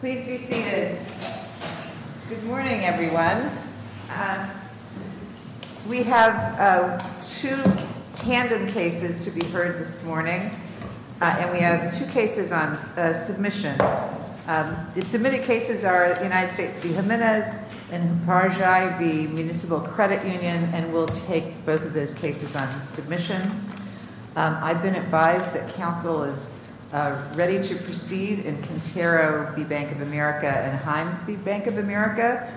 Please be seated. Good morning, everyone. We have two tandem cases to be heard this morning, and we have two cases on submission. The submitted cases are United States v. Jimenez and Humpirji v. Municipal Credit Union, and we'll take both of those cases on submission. I've been advised that counsel is ready to proceed in Contero v. Bank of America and Hymes v. Bank of America,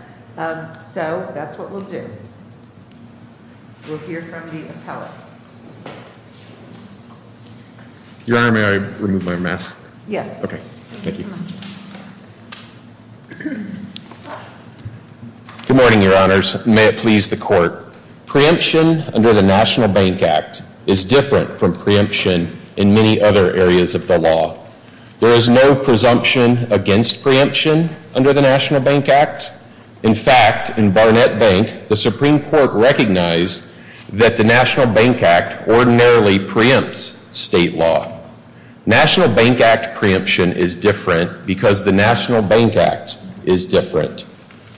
so that's what we'll do. We'll hear from the appellate. Your Honor, may I remove my mask? Yes. Okay. Thank you. Good morning, Your Honors. May it please the Court. Preemption under the National Bank Act is different from preemption in many other areas of the law. There is no presumption against preemption under the National Bank Act. In fact, in Barnett Bank, the Supreme Court recognized that the National Bank Act ordinarily preempts state law. National Bank Act preemption is different because the National Bank Act is different.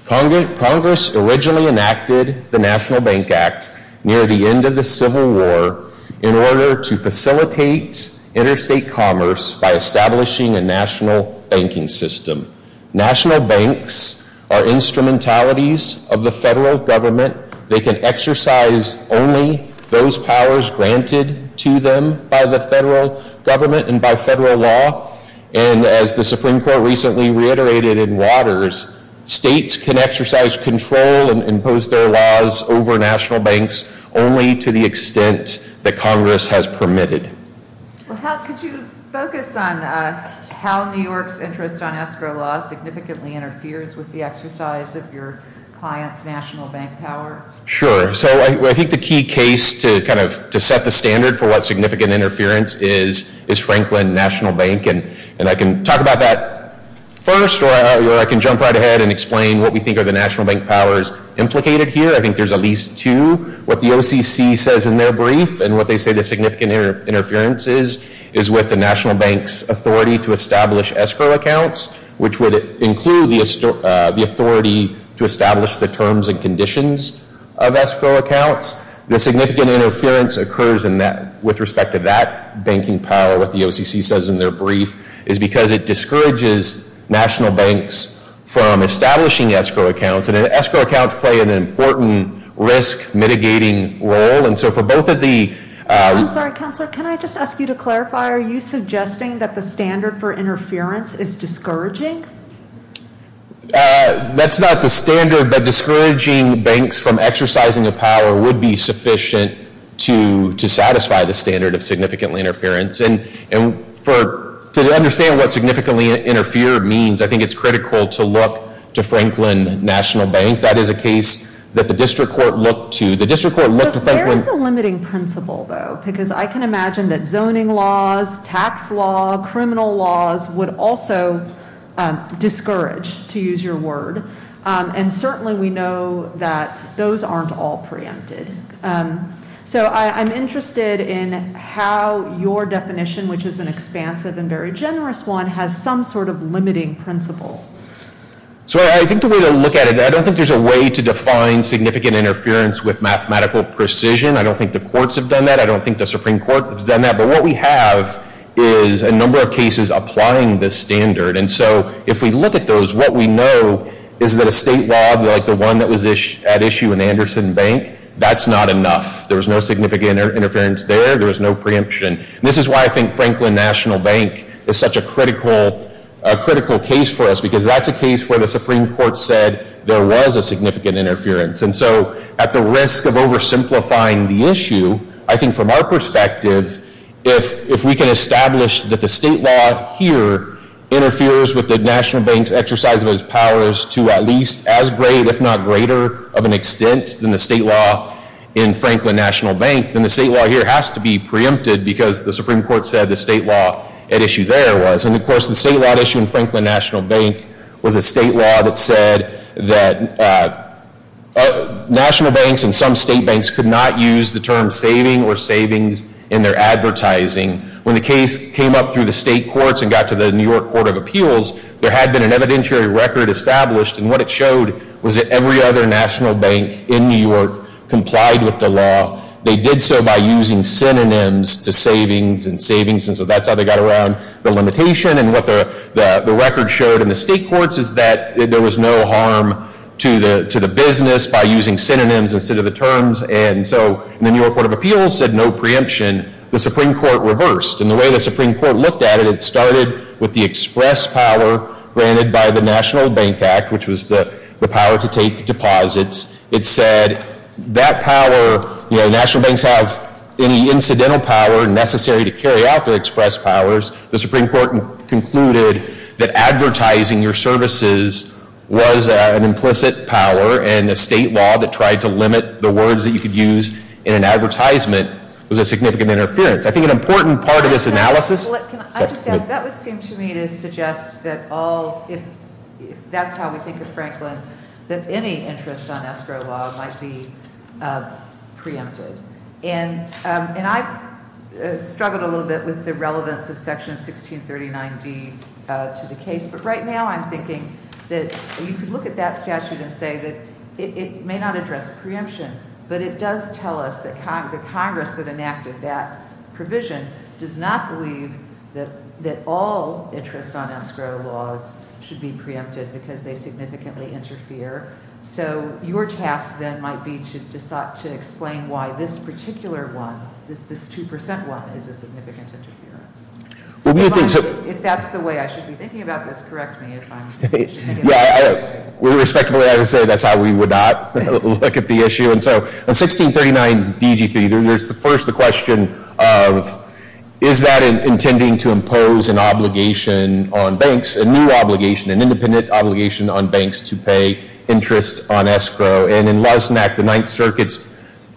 Congress originally enacted the National Bank Act near the end of the Civil War in order to facilitate interstate commerce by establishing a national banking system. National banks are instrumentalities of the federal government. They can exercise only those powers granted to them by the federal government and by federal law. And as the Supreme Court recently reiterated in Waters, states can exercise control and impose their laws over national banks only to the extent that Congress has permitted. Could you focus on how New York's interest on escrow law significantly interferes with the exercise of your client's national bank power? Sure. So I think the key case to kind of set the standard for what significant interference is, is Franklin National Bank. And I can talk about that first, or I can jump right ahead and explain what we think are the national bank powers implicated here. I think there's at least two. What the OCC says in their brief, and what they say the significant interference is, is with the national bank's authority to establish escrow accounts, which would include the authority to establish the terms and conditions of escrow accounts. The significant interference occurs with respect to that banking power, what the OCC says in their brief, is because it discourages national banks from establishing escrow accounts. And escrow accounts play an important risk-mitigating role. I'm sorry, Counselor, can I just ask you to clarify, are you suggesting that the standard for interference is discouraging? That's not the standard, but discouraging banks from exercising a power would be sufficient to satisfy the standard of significant interference. And to understand what significantly interfere means, I think it's critical to look to Franklin National Bank. That is a case that the district court looked to. The district court looked to Franklin— Where is the limiting principle, though? Because I can imagine that zoning laws, tax law, criminal laws would also discourage, to use your word. And certainly we know that those aren't all preempted. So I'm interested in how your definition, which is an expansive and very generous one, has some sort of limiting principle. So I think the way to look at it, I don't think there's a way to define significant interference with mathematical precision. I don't think the courts have done that. I don't think the Supreme Court has done that. But what we have is a number of cases applying this standard. And so if we look at those, what we know is that a state law like the one that was at issue in Anderson Bank, that's not enough. There was no significant interference there. There was no preemption. This is why I think Franklin National Bank is such a critical case for us, because that's a case where the Supreme Court said there was a significant interference. And so at the risk of oversimplifying the issue, I think from our perspective, if we can establish that the state law here interferes with the National Bank's exercise of its powers to at least as great, if not greater, of an extent than the state law in Franklin National Bank, then the state law here has to be preempted because the Supreme Court said the state law at issue there was. And of course the state law at issue in Franklin National Bank was a state law that said that national banks and some state banks could not use the term saving or savings in their advertising. When the case came up through the state courts and got to the New York Court of Appeals, there had been an evidentiary record established. And what it showed was that every other national bank in New York complied with the law. They did so by using synonyms to savings and savings. And so that's how they got around the limitation. And what the record showed in the state courts is that there was no harm to the business by using synonyms instead of the terms. And so the New York Court of Appeals said no preemption. The Supreme Court reversed. And the way the Supreme Court looked at it, it started with the express power granted by the National Bank Act, which was the power to take deposits. It said that power, you know, national banks have any incidental power necessary to carry out their express powers. The Supreme Court concluded that advertising your services was an implicit power and a state law that tried to limit the words that you could use in an advertisement was a significant interference. I think an important part of this analysis- And I struggled a little bit with the relevance of Section 1639D to the case, but right now I'm thinking that you could look at that statute and say that it may not address preemption, but it does tell us that the Congress that enacted that provision does not believe that all interest on escrow laws should be preempted because they significantly interfere. So your task then might be to explain why this particular one, this 2% one, is a significant interference. If that's the way I should be thinking about this, correct me if I'm- Yeah, respectfully, I would say that's how we would not look at the issue. And so in 1639 DGC, there's first the question of is that intending to impose an obligation on banks, a new obligation, an independent obligation on banks to pay interest on escrow. And in Luznak, the Ninth Circuit's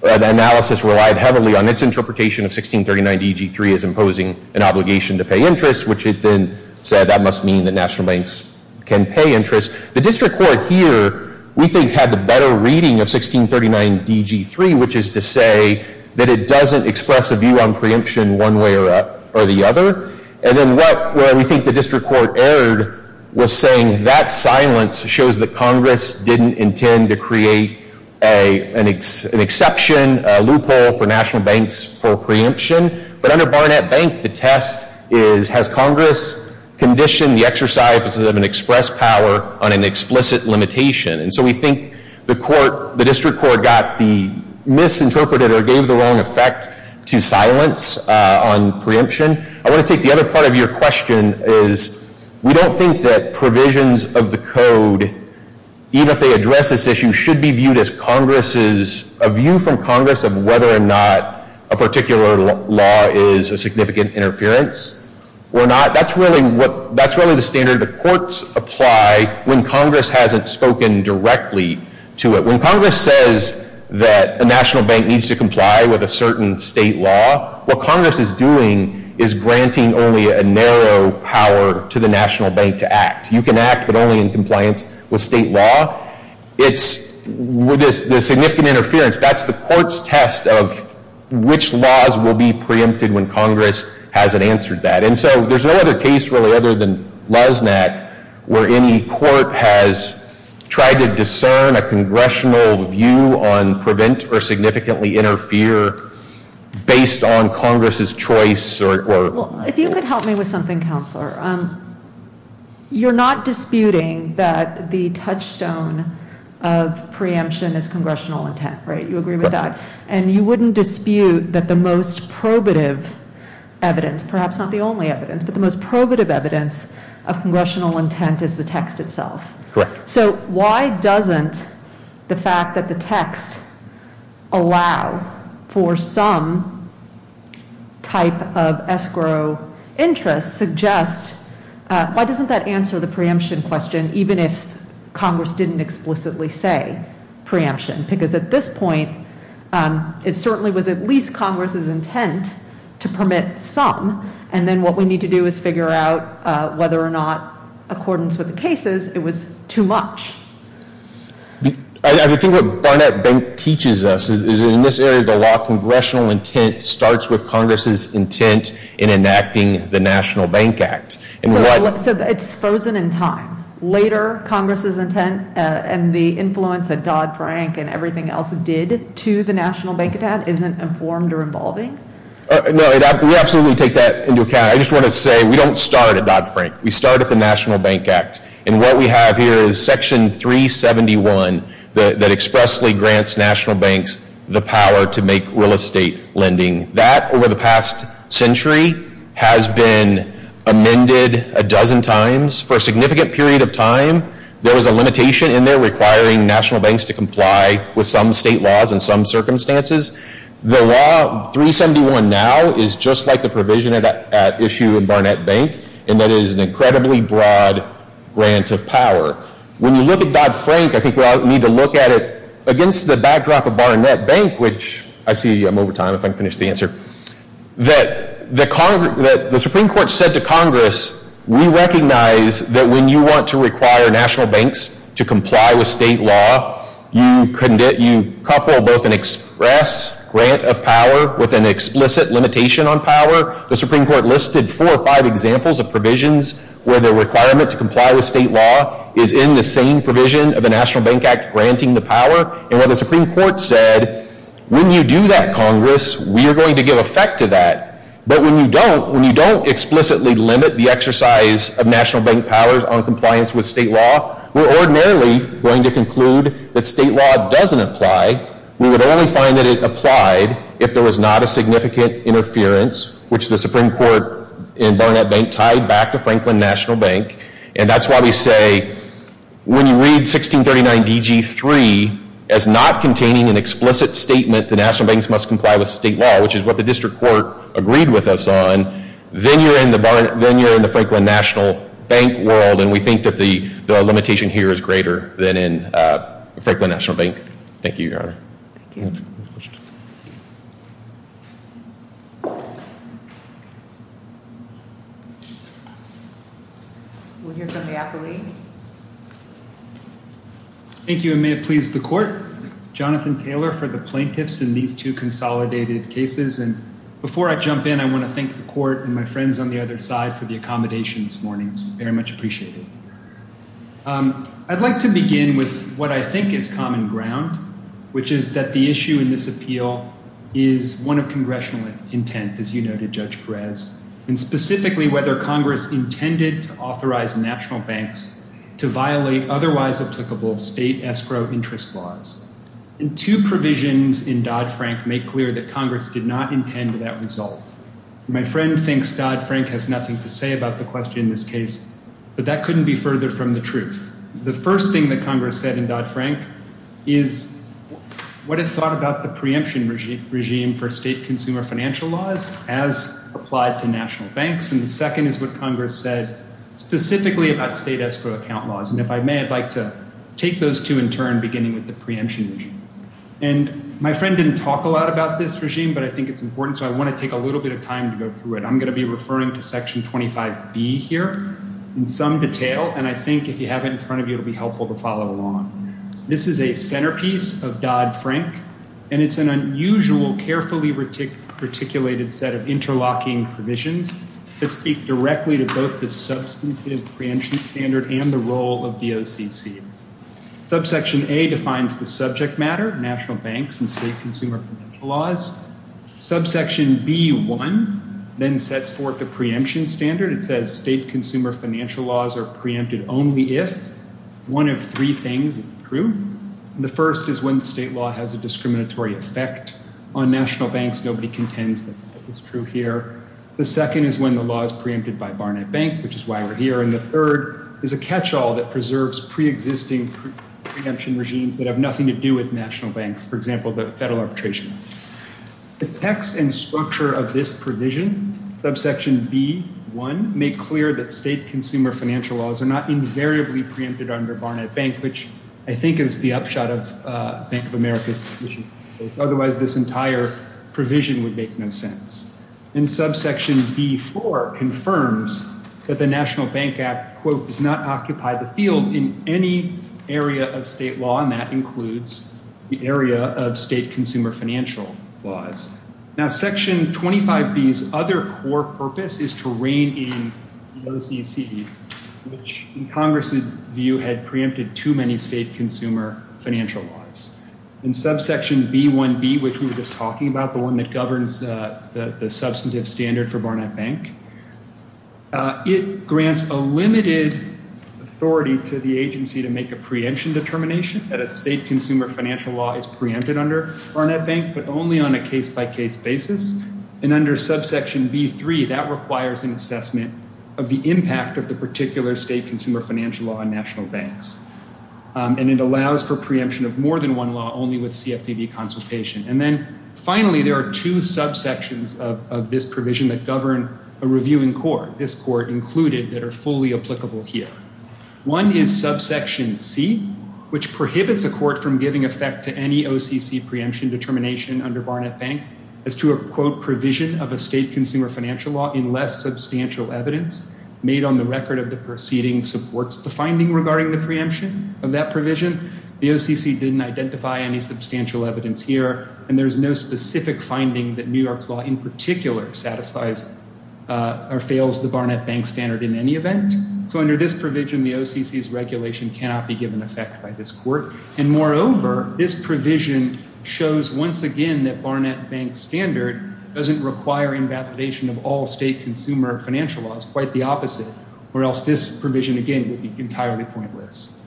analysis relied heavily on its interpretation of 1639 DGC as imposing an obligation to pay interest, which it then said that must mean that national banks can pay interest. The district court here, we think, had the better reading of 1639 DGC, which is to say that it doesn't express a view on preemption one way or the other. And then where we think the district court erred was saying that silence shows that Congress didn't intend to create an exception, a loophole for national banks for preemption. But under Barnett Bank, the test is has Congress conditioned the exercise of an express power on an explicit limitation. And so we think the court, the district court, got the misinterpreted or gave the wrong effect to silence on preemption. I want to take the other part of your question is we don't think that provisions of the code, even if they address this issue, should be viewed as a view from Congress of whether or not a particular law is a significant interference or not. That's really the standard the courts apply when Congress hasn't spoken directly to it. When Congress says that a national bank needs to comply with a certain state law, what Congress is doing is granting only a narrow power to the national bank to act. You can act, but only in compliance with state law. It's the significant interference. That's the court's test of which laws will be preempted when Congress hasn't answered that. And so there's no other case, really, other than Lesnak, where any court has tried to discern a congressional view on prevent or significantly interfere based on Congress's choice. If you could help me with something, Counselor. You're not disputing that the touchstone of preemption is congressional intent, right? You agree with that? And you wouldn't dispute that the most probative evidence, perhaps not the only evidence, but the most probative evidence of congressional intent is the text itself? Correct. So why doesn't the fact that the text allow for some type of escrow interest suggest, why doesn't that answer the preemption question even if Congress didn't explicitly say preemption? Because at this point, it certainly was at least Congress's intent to permit some, and then what we need to do is figure out whether or not, accordance with the cases, it was too much. I think what Barnett Bank teaches us is in this area of the law, congressional intent starts with Congress's intent in enacting the National Bank Act. So it's frozen in time. Later, Congress's intent and the influence that Dodd-Frank and everything else did to the National Bank Act isn't informed or involving? No, we absolutely take that into account. I just wanted to say we don't start at Dodd-Frank. We start at the National Bank Act. And what we have here is Section 371 that expressly grants national banks the power to make real estate lending. That, over the past century, has been amended a dozen times. For a significant period of time, there was a limitation in there requiring national banks to comply with some state laws and some circumstances. The law, 371 now, is just like the provision at issue in Barnett Bank, in that it is an incredibly broad grant of power. When you look at Dodd-Frank, I think we all need to look at it against the backdrop of Barnett Bank, which I see I'm over time, if I can finish the answer. The Supreme Court said to Congress, we recognize that when you want to require national banks to comply with state law, you couple both an express grant of power with an explicit limitation on power. The Supreme Court listed four or five examples of provisions where the requirement to comply with state law is in the same provision of the National Bank Act granting the power. And what the Supreme Court said, when you do that, Congress, we are going to give effect to that. But when you don't, when you don't explicitly limit the exercise of national bank powers on compliance with state law, we're ordinarily going to conclude that state law doesn't apply. We would only find that it applied if there was not a significant interference, which the Supreme Court in Barnett Bank tied back to Franklin National Bank. And that's why we say, when you read 1639 D.G. 3 as not containing an explicit statement, the national banks must comply with state law, which is what the district court agreed with us on, then you're in the Franklin National Bank world, and we think that the limitation here is greater than in Franklin National Bank. Thank you, Your Honor. Thank you. We'll hear from the appellee. Thank you, and may it please the court. Jonathan Taylor for the plaintiffs in these two consolidated cases. And before I jump in, I want to thank the court and my friends on the other side for the accommodation this morning. It's very much appreciated. I'd like to begin with what I think is common ground, which is that the issue in this appeal is one of congressional intent, as you noted, Judge Perez, and specifically whether Congress intended to authorize national banks to violate otherwise applicable state escrow interest laws. And two provisions in Dodd-Frank make clear that Congress did not intend that result. My friend thinks Dodd-Frank has nothing to say about the question in this case, but that couldn't be further from the truth. The first thing that Congress said in Dodd-Frank is what it thought about the preemption regime for state consumer financial laws as applied to national banks, and the second is what Congress said specifically about state escrow account laws. And if I may, I'd like to take those two in turn, beginning with the preemption regime. And my friend didn't talk a lot about this regime, but I think it's important, so I want to take a little bit of time to go through it. I'm going to be referring to Section 25B here in some detail, and I think if you have it in front of you, it will be helpful to follow along. This is a centerpiece of Dodd-Frank, and it's an unusual, carefully articulated set of interlocking provisions that speak directly to both the substantive preemption standard and the role of the OCC. Subsection A defines the subject matter, national banks and state consumer financial laws. Subsection B1 then sets forth the preemption standard. It says state consumer financial laws are preempted only if one of three things is true. The first is when the state law has a discriminatory effect on national banks. Nobody contends that that is true here. The second is when the law is preempted by Barnett Bank, which is why we're here, and the third is a catch-all that preserves preexisting preemption regimes that have nothing to do with national banks, for example, the federal arbitration. The text and structure of this provision, subsection B1, make clear that state consumer financial laws are not invariably preempted under Barnett Bank, which I think is the upshot of Bank of America's position. Otherwise, this entire provision would make no sense. And subsection B4 confirms that the National Bank Act, quote, does not occupy the field in any area of state law, and that includes the area of state consumer financial laws. Now, section 25B's other core purpose is to rein in the OCC, which in Congress's view had preempted too many state consumer financial laws. In subsection B1B, which we were just talking about, the one that governs the substantive standard for Barnett Bank, it grants a limited authority to the agency to make a preemption determination that a state consumer financial law is preempted under Barnett Bank, but only on a case-by-case basis, and under subsection B3, that requires an assessment of the impact of the particular state consumer financial law on national banks. And it allows for preemption of more than one law only with CFPB consultation. And then, finally, there are two subsections of this provision that govern a reviewing court, this court included, that are fully applicable here. One is subsection C, which prohibits a court from giving effect to any OCC preemption determination under Barnett Bank as to a, quote, provision of a state consumer financial law in less substantial evidence made on the record of the proceeding supports the finding regarding the preemption of that provision. The OCC didn't identify any substantial evidence here, and there's no specific finding that New York's law in particular satisfies or fails the Barnett Bank standard in any event. So under this provision, the OCC's regulation cannot be given effect by this court. And, moreover, this provision shows once again that Barnett Bank's standard doesn't require invalidation of all state consumer financial laws, quite the opposite, or else this provision, again, would be entirely pointless.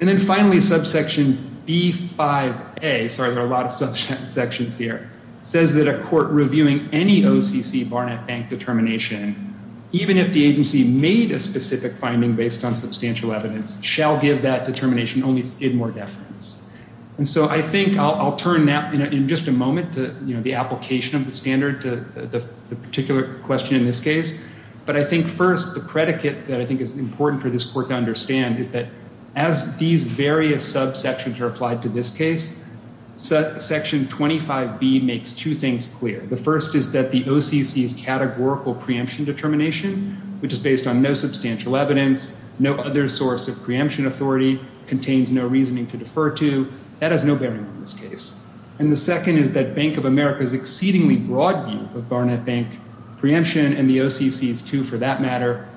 And then, finally, subsection B5A, sorry, there are a lot of subsections here, says that a court reviewing any OCC Barnett Bank determination, even if the agency made a specific finding based on substantial evidence, shall give that determination only in more deference. And so I think I'll turn now in just a moment to the application of the standard to the particular question in this case. But I think, first, the predicate that I think is important for this court to understand is that as these various subsections are applied to this case, section 25B makes two things clear. The first is that the OCC's categorical preemption determination, which is based on no substantial evidence, no other source of preemption authority, contains no reasoning to defer to, that has no bearing on this case. And the second is that Bank of America's exceedingly broad view of Barnett Bank preemption, and the OCC's too, for that matter,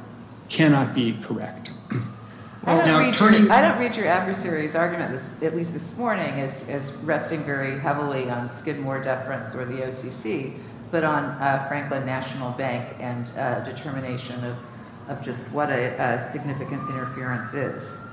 cannot be correct. I don't read your adversary's argument, at least this morning, as resting very heavily on Skidmore deference or the OCC, but on Franklin National Bank and determination of just what a significant interference is.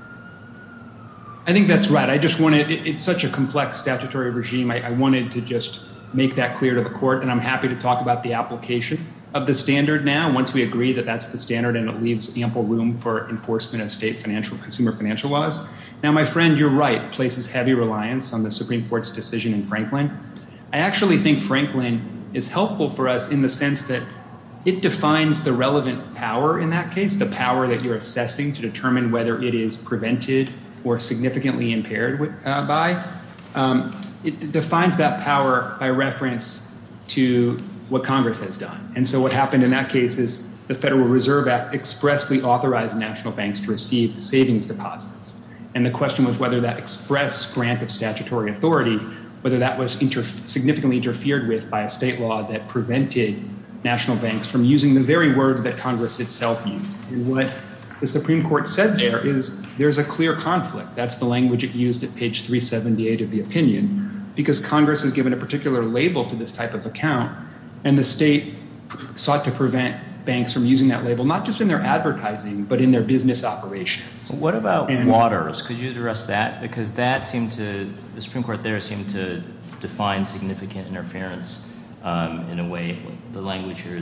I think that's right. It's such a complex statutory regime. I wanted to just make that clear to the court, and I'm happy to talk about the application of the standard now, once we agree that that's the standard and it leaves ample room for enforcement of state consumer financial laws. Now, my friend, you're right. It places heavy reliance on the Supreme Court's decision in Franklin. I actually think Franklin is helpful for us in the sense that it defines the relevant power in that case, the power that you're assessing to determine whether it is prevented or significantly impaired by. It defines that power by reference to what Congress has done. And so what happened in that case is the Federal Reserve Act expressly authorized national banks to receive savings deposits. And the question was whether that express grant of statutory authority, whether that was significantly interfered with by a state law that prevented national banks from using the very word that Congress itself used. And what the Supreme Court said there is there's a clear conflict. That's the language it used at page 378 of the opinion, because Congress has given a particular label to this type of account, and the state sought to prevent banks from using that label, not just in their advertising, but in their business operations. What about waters? Could you address that? Because that seemed to – the Supreme Court there seemed to define significant interference in a way the language here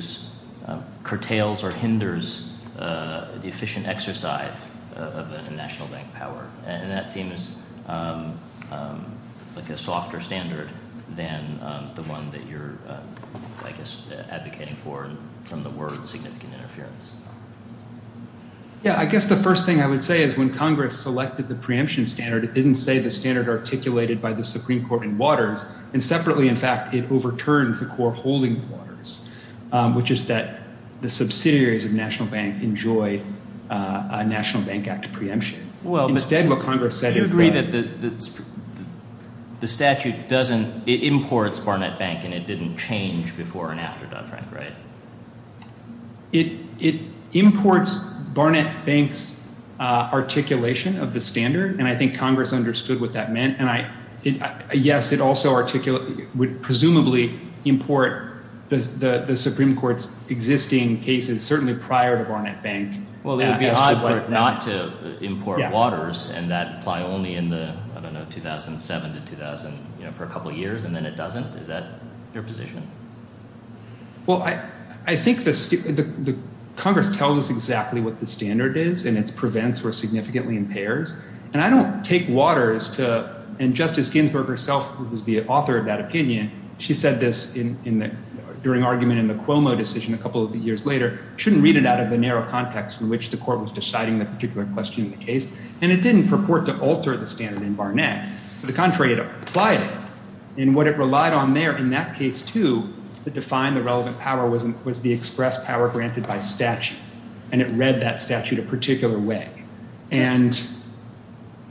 curtails or hinders the efficient exercise of a national bank power. And that seems like a softer standard than the one that you're, I guess, advocating for from the word significant interference. Yeah, I guess the first thing I would say is when Congress selected the preemption standard, it didn't say the standard articulated by the Supreme Court in waters. And separately, in fact, it overturned the core holding quarters, which is that the subsidiaries of national banks enjoy a National Bank Act preemption. Well, but – Instead, what Congress said is that – Do you agree that the statute doesn't – it imports Barnett Bank and it didn't change before and after Dodd-Frank, right? It imports Barnett Bank's articulation of the standard, and I think Congress understood what that meant. And yes, it also would presumably import the Supreme Court's existing cases, certainly prior to Barnett Bank. Well, it would be odd for it not to import waters and that apply only in the, I don't know, 2007 to 2000 for a couple of years, and then it doesn't. Is that your position? Well, I think the – Congress tells us exactly what the standard is and its prevents or significantly impairs, and I don't take waters to – and Justice Ginsburg herself, who was the author of that opinion, she said this during argument in the Cuomo decision a couple of years later, shouldn't read it out of the narrow context in which the court was deciding the particular question in the case, and it didn't purport to alter the standard in Barnett. To the contrary, it applied it, and what it relied on there in that case, too, to define the relevant power was the express power granted by statute, and it read that statute a particular way.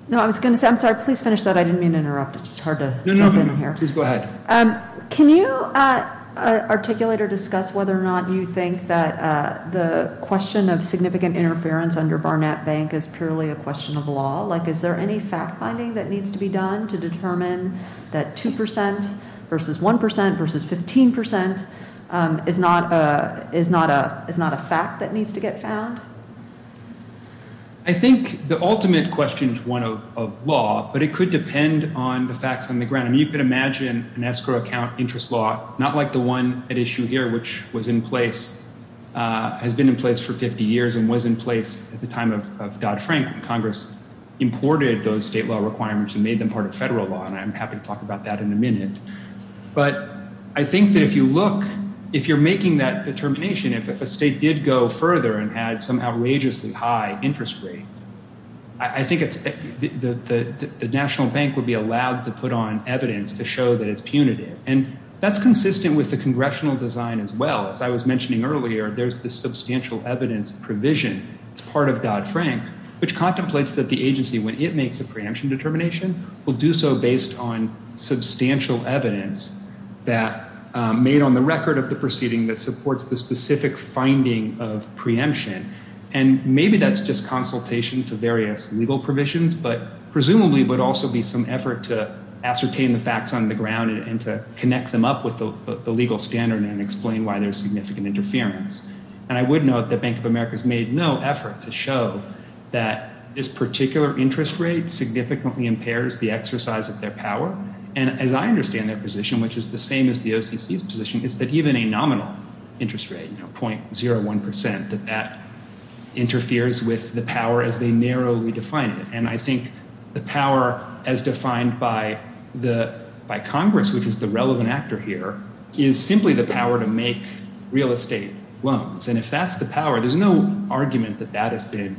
No, I was going to say – I'm sorry. Please finish that. I didn't mean to interrupt. It's just hard to jump in here. No, no, no. Please go ahead. Can you articulate or discuss whether or not you think that the question of significant interference under Barnett Bank is purely a question of law? Like, is there any fact-finding that needs to be done to determine that 2 percent versus 1 percent versus 15 percent is not a fact that needs to get found? I think the ultimate question is one of law, but it could depend on the facts on the ground. I mean, you can imagine an escrow account interest law, not like the one at issue here, which was in place – has been in place for 50 years and was in place at the time of Dodd-Frank when Congress imported those state law requirements and made them part of federal law, and I'm happy to talk about that in a minute. But I think that if you look – if you're making that determination, if a state did go further and had some outrageously high interest rate, I think the National Bank would be allowed to put on evidence to show that it's punitive, and that's consistent with the congressional design as well. As I was mentioning earlier, there's the substantial evidence provision. It's part of Dodd-Frank, which contemplates that the agency, when it makes a preemption determination, will do so based on substantial evidence that – made on the record of the proceeding that supports the specific finding of preemption, and maybe that's just consultation to various legal provisions, but presumably would also be some effort to ascertain the facts on the ground and to connect them up with the legal standard and explain why there's significant interference. And I would note that Bank of America's made no effort to show that this particular interest rate significantly impairs the exercise of their power. And as I understand their position, which is the same as the OCC's position, is that even a nominal interest rate, 0.01 percent, that that interferes with the power as they narrowly define it. And I think the power as defined by Congress, which is the relevant actor here, is simply the power to make real estate loans. And if that's the power, there's no argument that that has been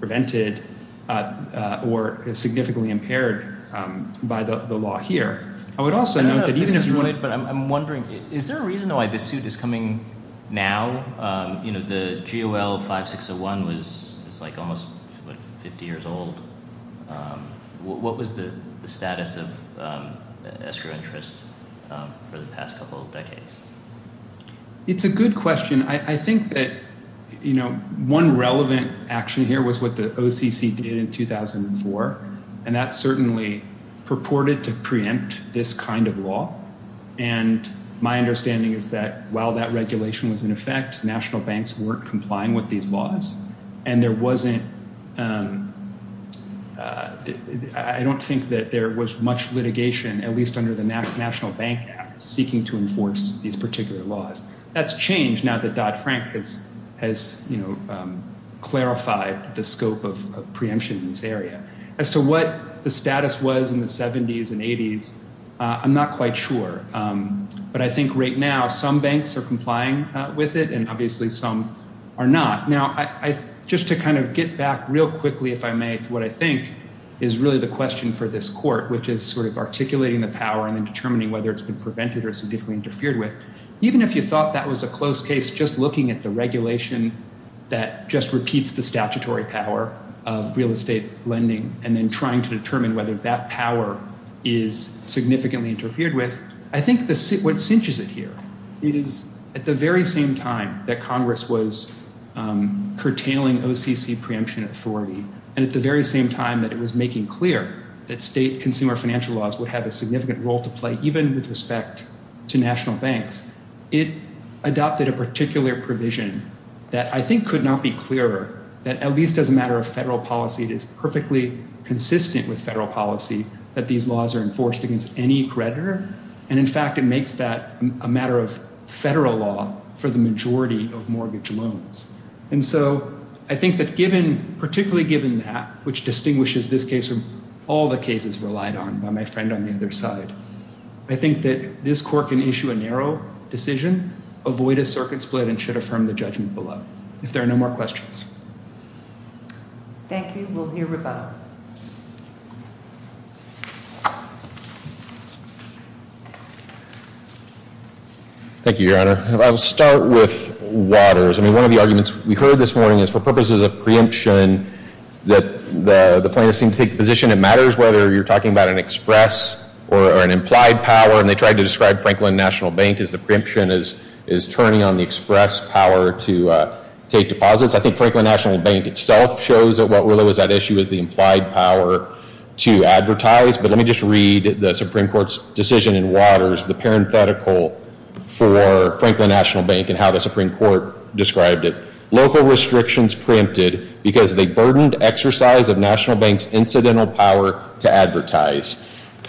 prevented or significantly impaired by the law here. I would also note that even if you wanted – I'm wondering, is there a reason why this suit is coming now? The GOL 5601 was almost 50 years old. What was the status of escrow interest for the past couple of decades? It's a good question. I think that one relevant action here was what the OCC did in 2004, and that certainly purported to preempt this kind of law. And my understanding is that while that regulation was in effect, national banks weren't complying with these laws. And there wasn't – I don't think that there was much litigation, at least under the National Bank Act, seeking to enforce these particular laws. That's changed now that Dodd-Frank has clarified the scope of preemption in this area. As to what the status was in the 70s and 80s, I'm not quite sure. But I think right now some banks are complying with it, and obviously some are not. Now, just to kind of get back real quickly, if I may, to what I think is really the question for this court, which is sort of articulating the power and then determining whether it's been prevented or significantly interfered with, even if you thought that was a close case, just looking at the regulation that just repeats the statutory power of real estate lending and then trying to determine whether that power is significantly interfered with, I think what cinches it here, it is at the very same time that Congress was curtailing OCC preemption authority and at the very same time that it was making clear that state consumer financial laws would have a significant role to play, even with respect to national banks, it adopted a particular provision that I think could not be clearer, that at least as a matter of federal policy, it is perfectly consistent with federal policy that these laws are enforced against any creditor. And in fact, it makes that a matter of federal law for the majority of mortgage loans. And so I think that given, particularly given that, which distinguishes this case from all the cases relied on by my friend on the other side, I think that this court can issue a narrow decision, avoid a circuit split and should affirm the judgment below. If there are no more questions. Thank you. We'll hear rebuttal. Thank you, Your Honor. I'll start with waters. I mean, one of the arguments we heard this morning is for purposes of preemption that the plaintiffs seem to take the position it matters whether you're talking about an express or an implied power. And they tried to describe Franklin National Bank as the preemption is turning on the express power to take deposits. I think Franklin National Bank itself shows that what really was at issue was the implied power to advertise. But let me just read the Supreme Court's decision in waters, the parenthetical for Franklin National Bank and how the Supreme Court described it. Local restrictions preempted because they burdened exercise of National Bank's incidental power to advertise.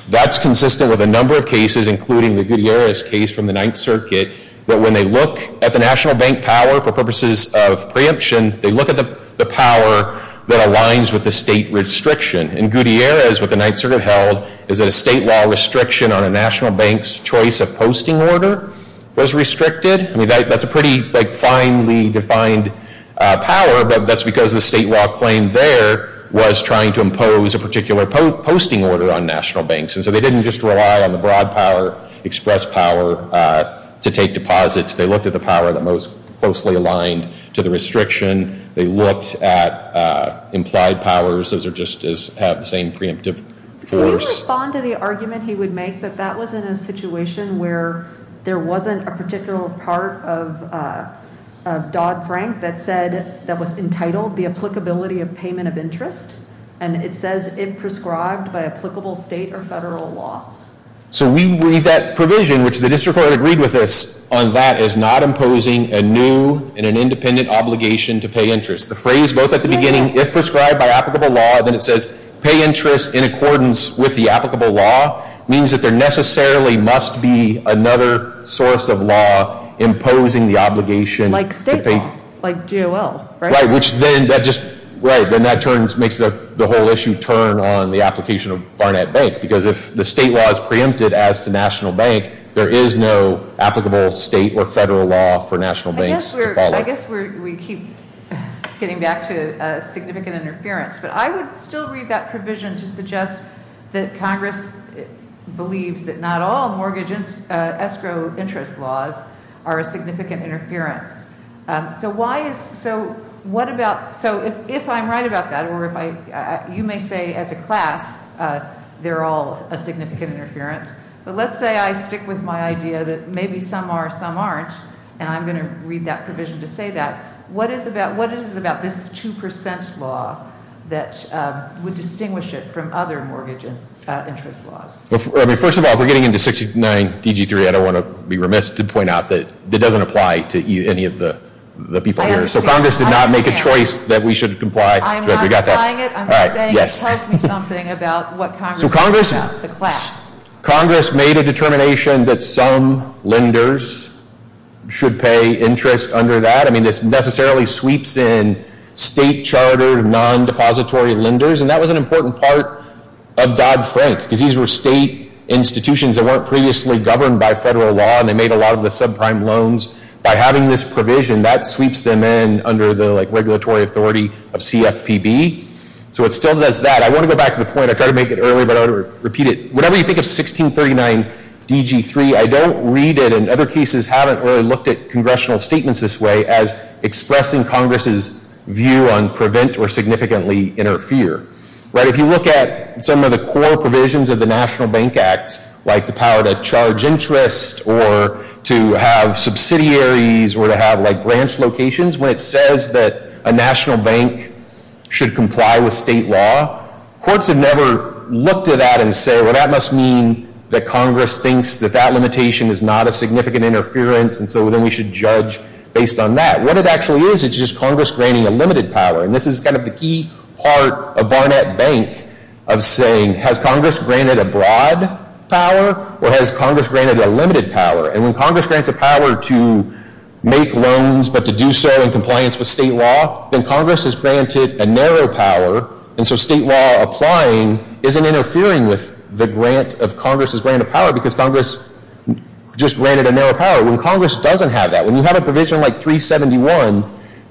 That's consistent with a number of cases, including the Gutierrez case from the Ninth Circuit, that when they look at the National Bank power for purposes of preemption, they look at the power that aligns with the state restriction. In Gutierrez, what the Ninth Circuit held is that a state law restriction on a National Bank's choice of posting order was restricted. I mean, that's a pretty, like, finely defined power, but that's because the state law claim there was trying to impose a particular posting order on National Banks. And so they didn't just rely on the broad power, express power to take deposits. They looked at the power that most closely aligned to the restriction. They looked at implied powers. Those are just as have the same preemptive force. Could you respond to the argument he would make that that was in a situation where there wasn't a particular part of Dodd-Frank that said that was entitled the applicability of payment of interest? And it says it prescribed by applicable state or federal law. So we read that provision, which the district court agreed with us on that, is not imposing a new and an independent obligation to pay interest. The phrase both at the beginning, if prescribed by applicable law, then it says pay interest in accordance with the applicable law, means that there necessarily must be another source of law imposing the obligation. Like state law, like G.O.L., right? Right, which then that just, right, then that turns, makes the whole issue turn on the application of Barnett Bank. Because if the state law is preempted as to national bank, there is no applicable state or federal law for national banks to follow. I guess we keep getting back to significant interference. But I would still read that provision to suggest that Congress believes that not all mortgage escrow interest laws are a significant interference. So why is, so what about, so if I'm right about that, or if I, you may say as a class, they're all a significant interference. But let's say I stick with my idea that maybe some are, some aren't, and I'm going to read that provision to say that. What is about, what is about this 2% law that would distinguish it from other mortgage interest laws? I mean, first of all, if we're getting into 69 D.G. 3, I don't want to be remiss to point out that it doesn't apply to any of the people here. So Congress did not make a choice that we should comply. I'm not applying it. I'm just saying it tells me something about what Congress said about the class. So Congress, Congress made a determination that some lenders should pay interest under that. I mean, this necessarily sweeps in state chartered, non-depository lenders. And that was an important part of Dodd-Frank, because these were state institutions that weren't previously governed by federal law. And they made a lot of the subprime loans. By having this provision, that sweeps them in under the, like, regulatory authority of CFPB. So it still does that. I want to go back to the point. I tried to make it earlier, but I want to repeat it. Whatever you think of 1639 D.G. 3, I don't read it, and other cases haven't, I haven't really looked at congressional statements this way as expressing Congress's view on prevent or significantly interfere. Right, if you look at some of the core provisions of the National Bank Act, like the power to charge interest or to have subsidiaries or to have, like, branch locations, when it says that a national bank should comply with state law, courts have never looked at that and said, well, that must mean that Congress thinks that that limitation is not a significant interference, and so then we should judge based on that. What it actually is, it's just Congress granting a limited power. And this is kind of the key part of Barnett Bank of saying, has Congress granted a broad power or has Congress granted a limited power? And when Congress grants a power to make loans but to do so in compliance with state law, then Congress has granted a narrow power. And so state law applying isn't interfering with the grant of Congress's grant of power because Congress just granted a narrow power. When Congress doesn't have that, when you have a provision like 371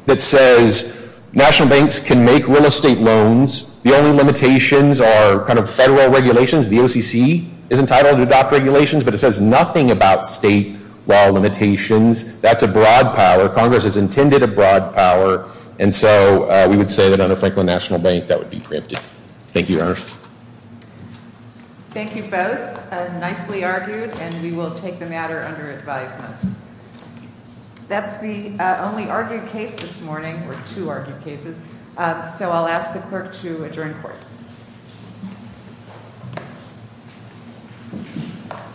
that says national banks can make real estate loans, the only limitations are kind of federal regulations. The OCC is entitled to adopt regulations, but it says nothing about state law limitations. That's a broad power. Congress has intended a broad power. And so we would say that under Franklin National Bank that would be preempted. Thank you, Your Honor. Thank you both. Nicely argued, and we will take the matter under advisement. That's the only argued case this morning, or two argued cases. So I'll ask the clerk to adjourn court.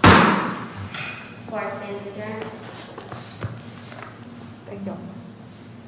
Court stands adjourned. Thank you all.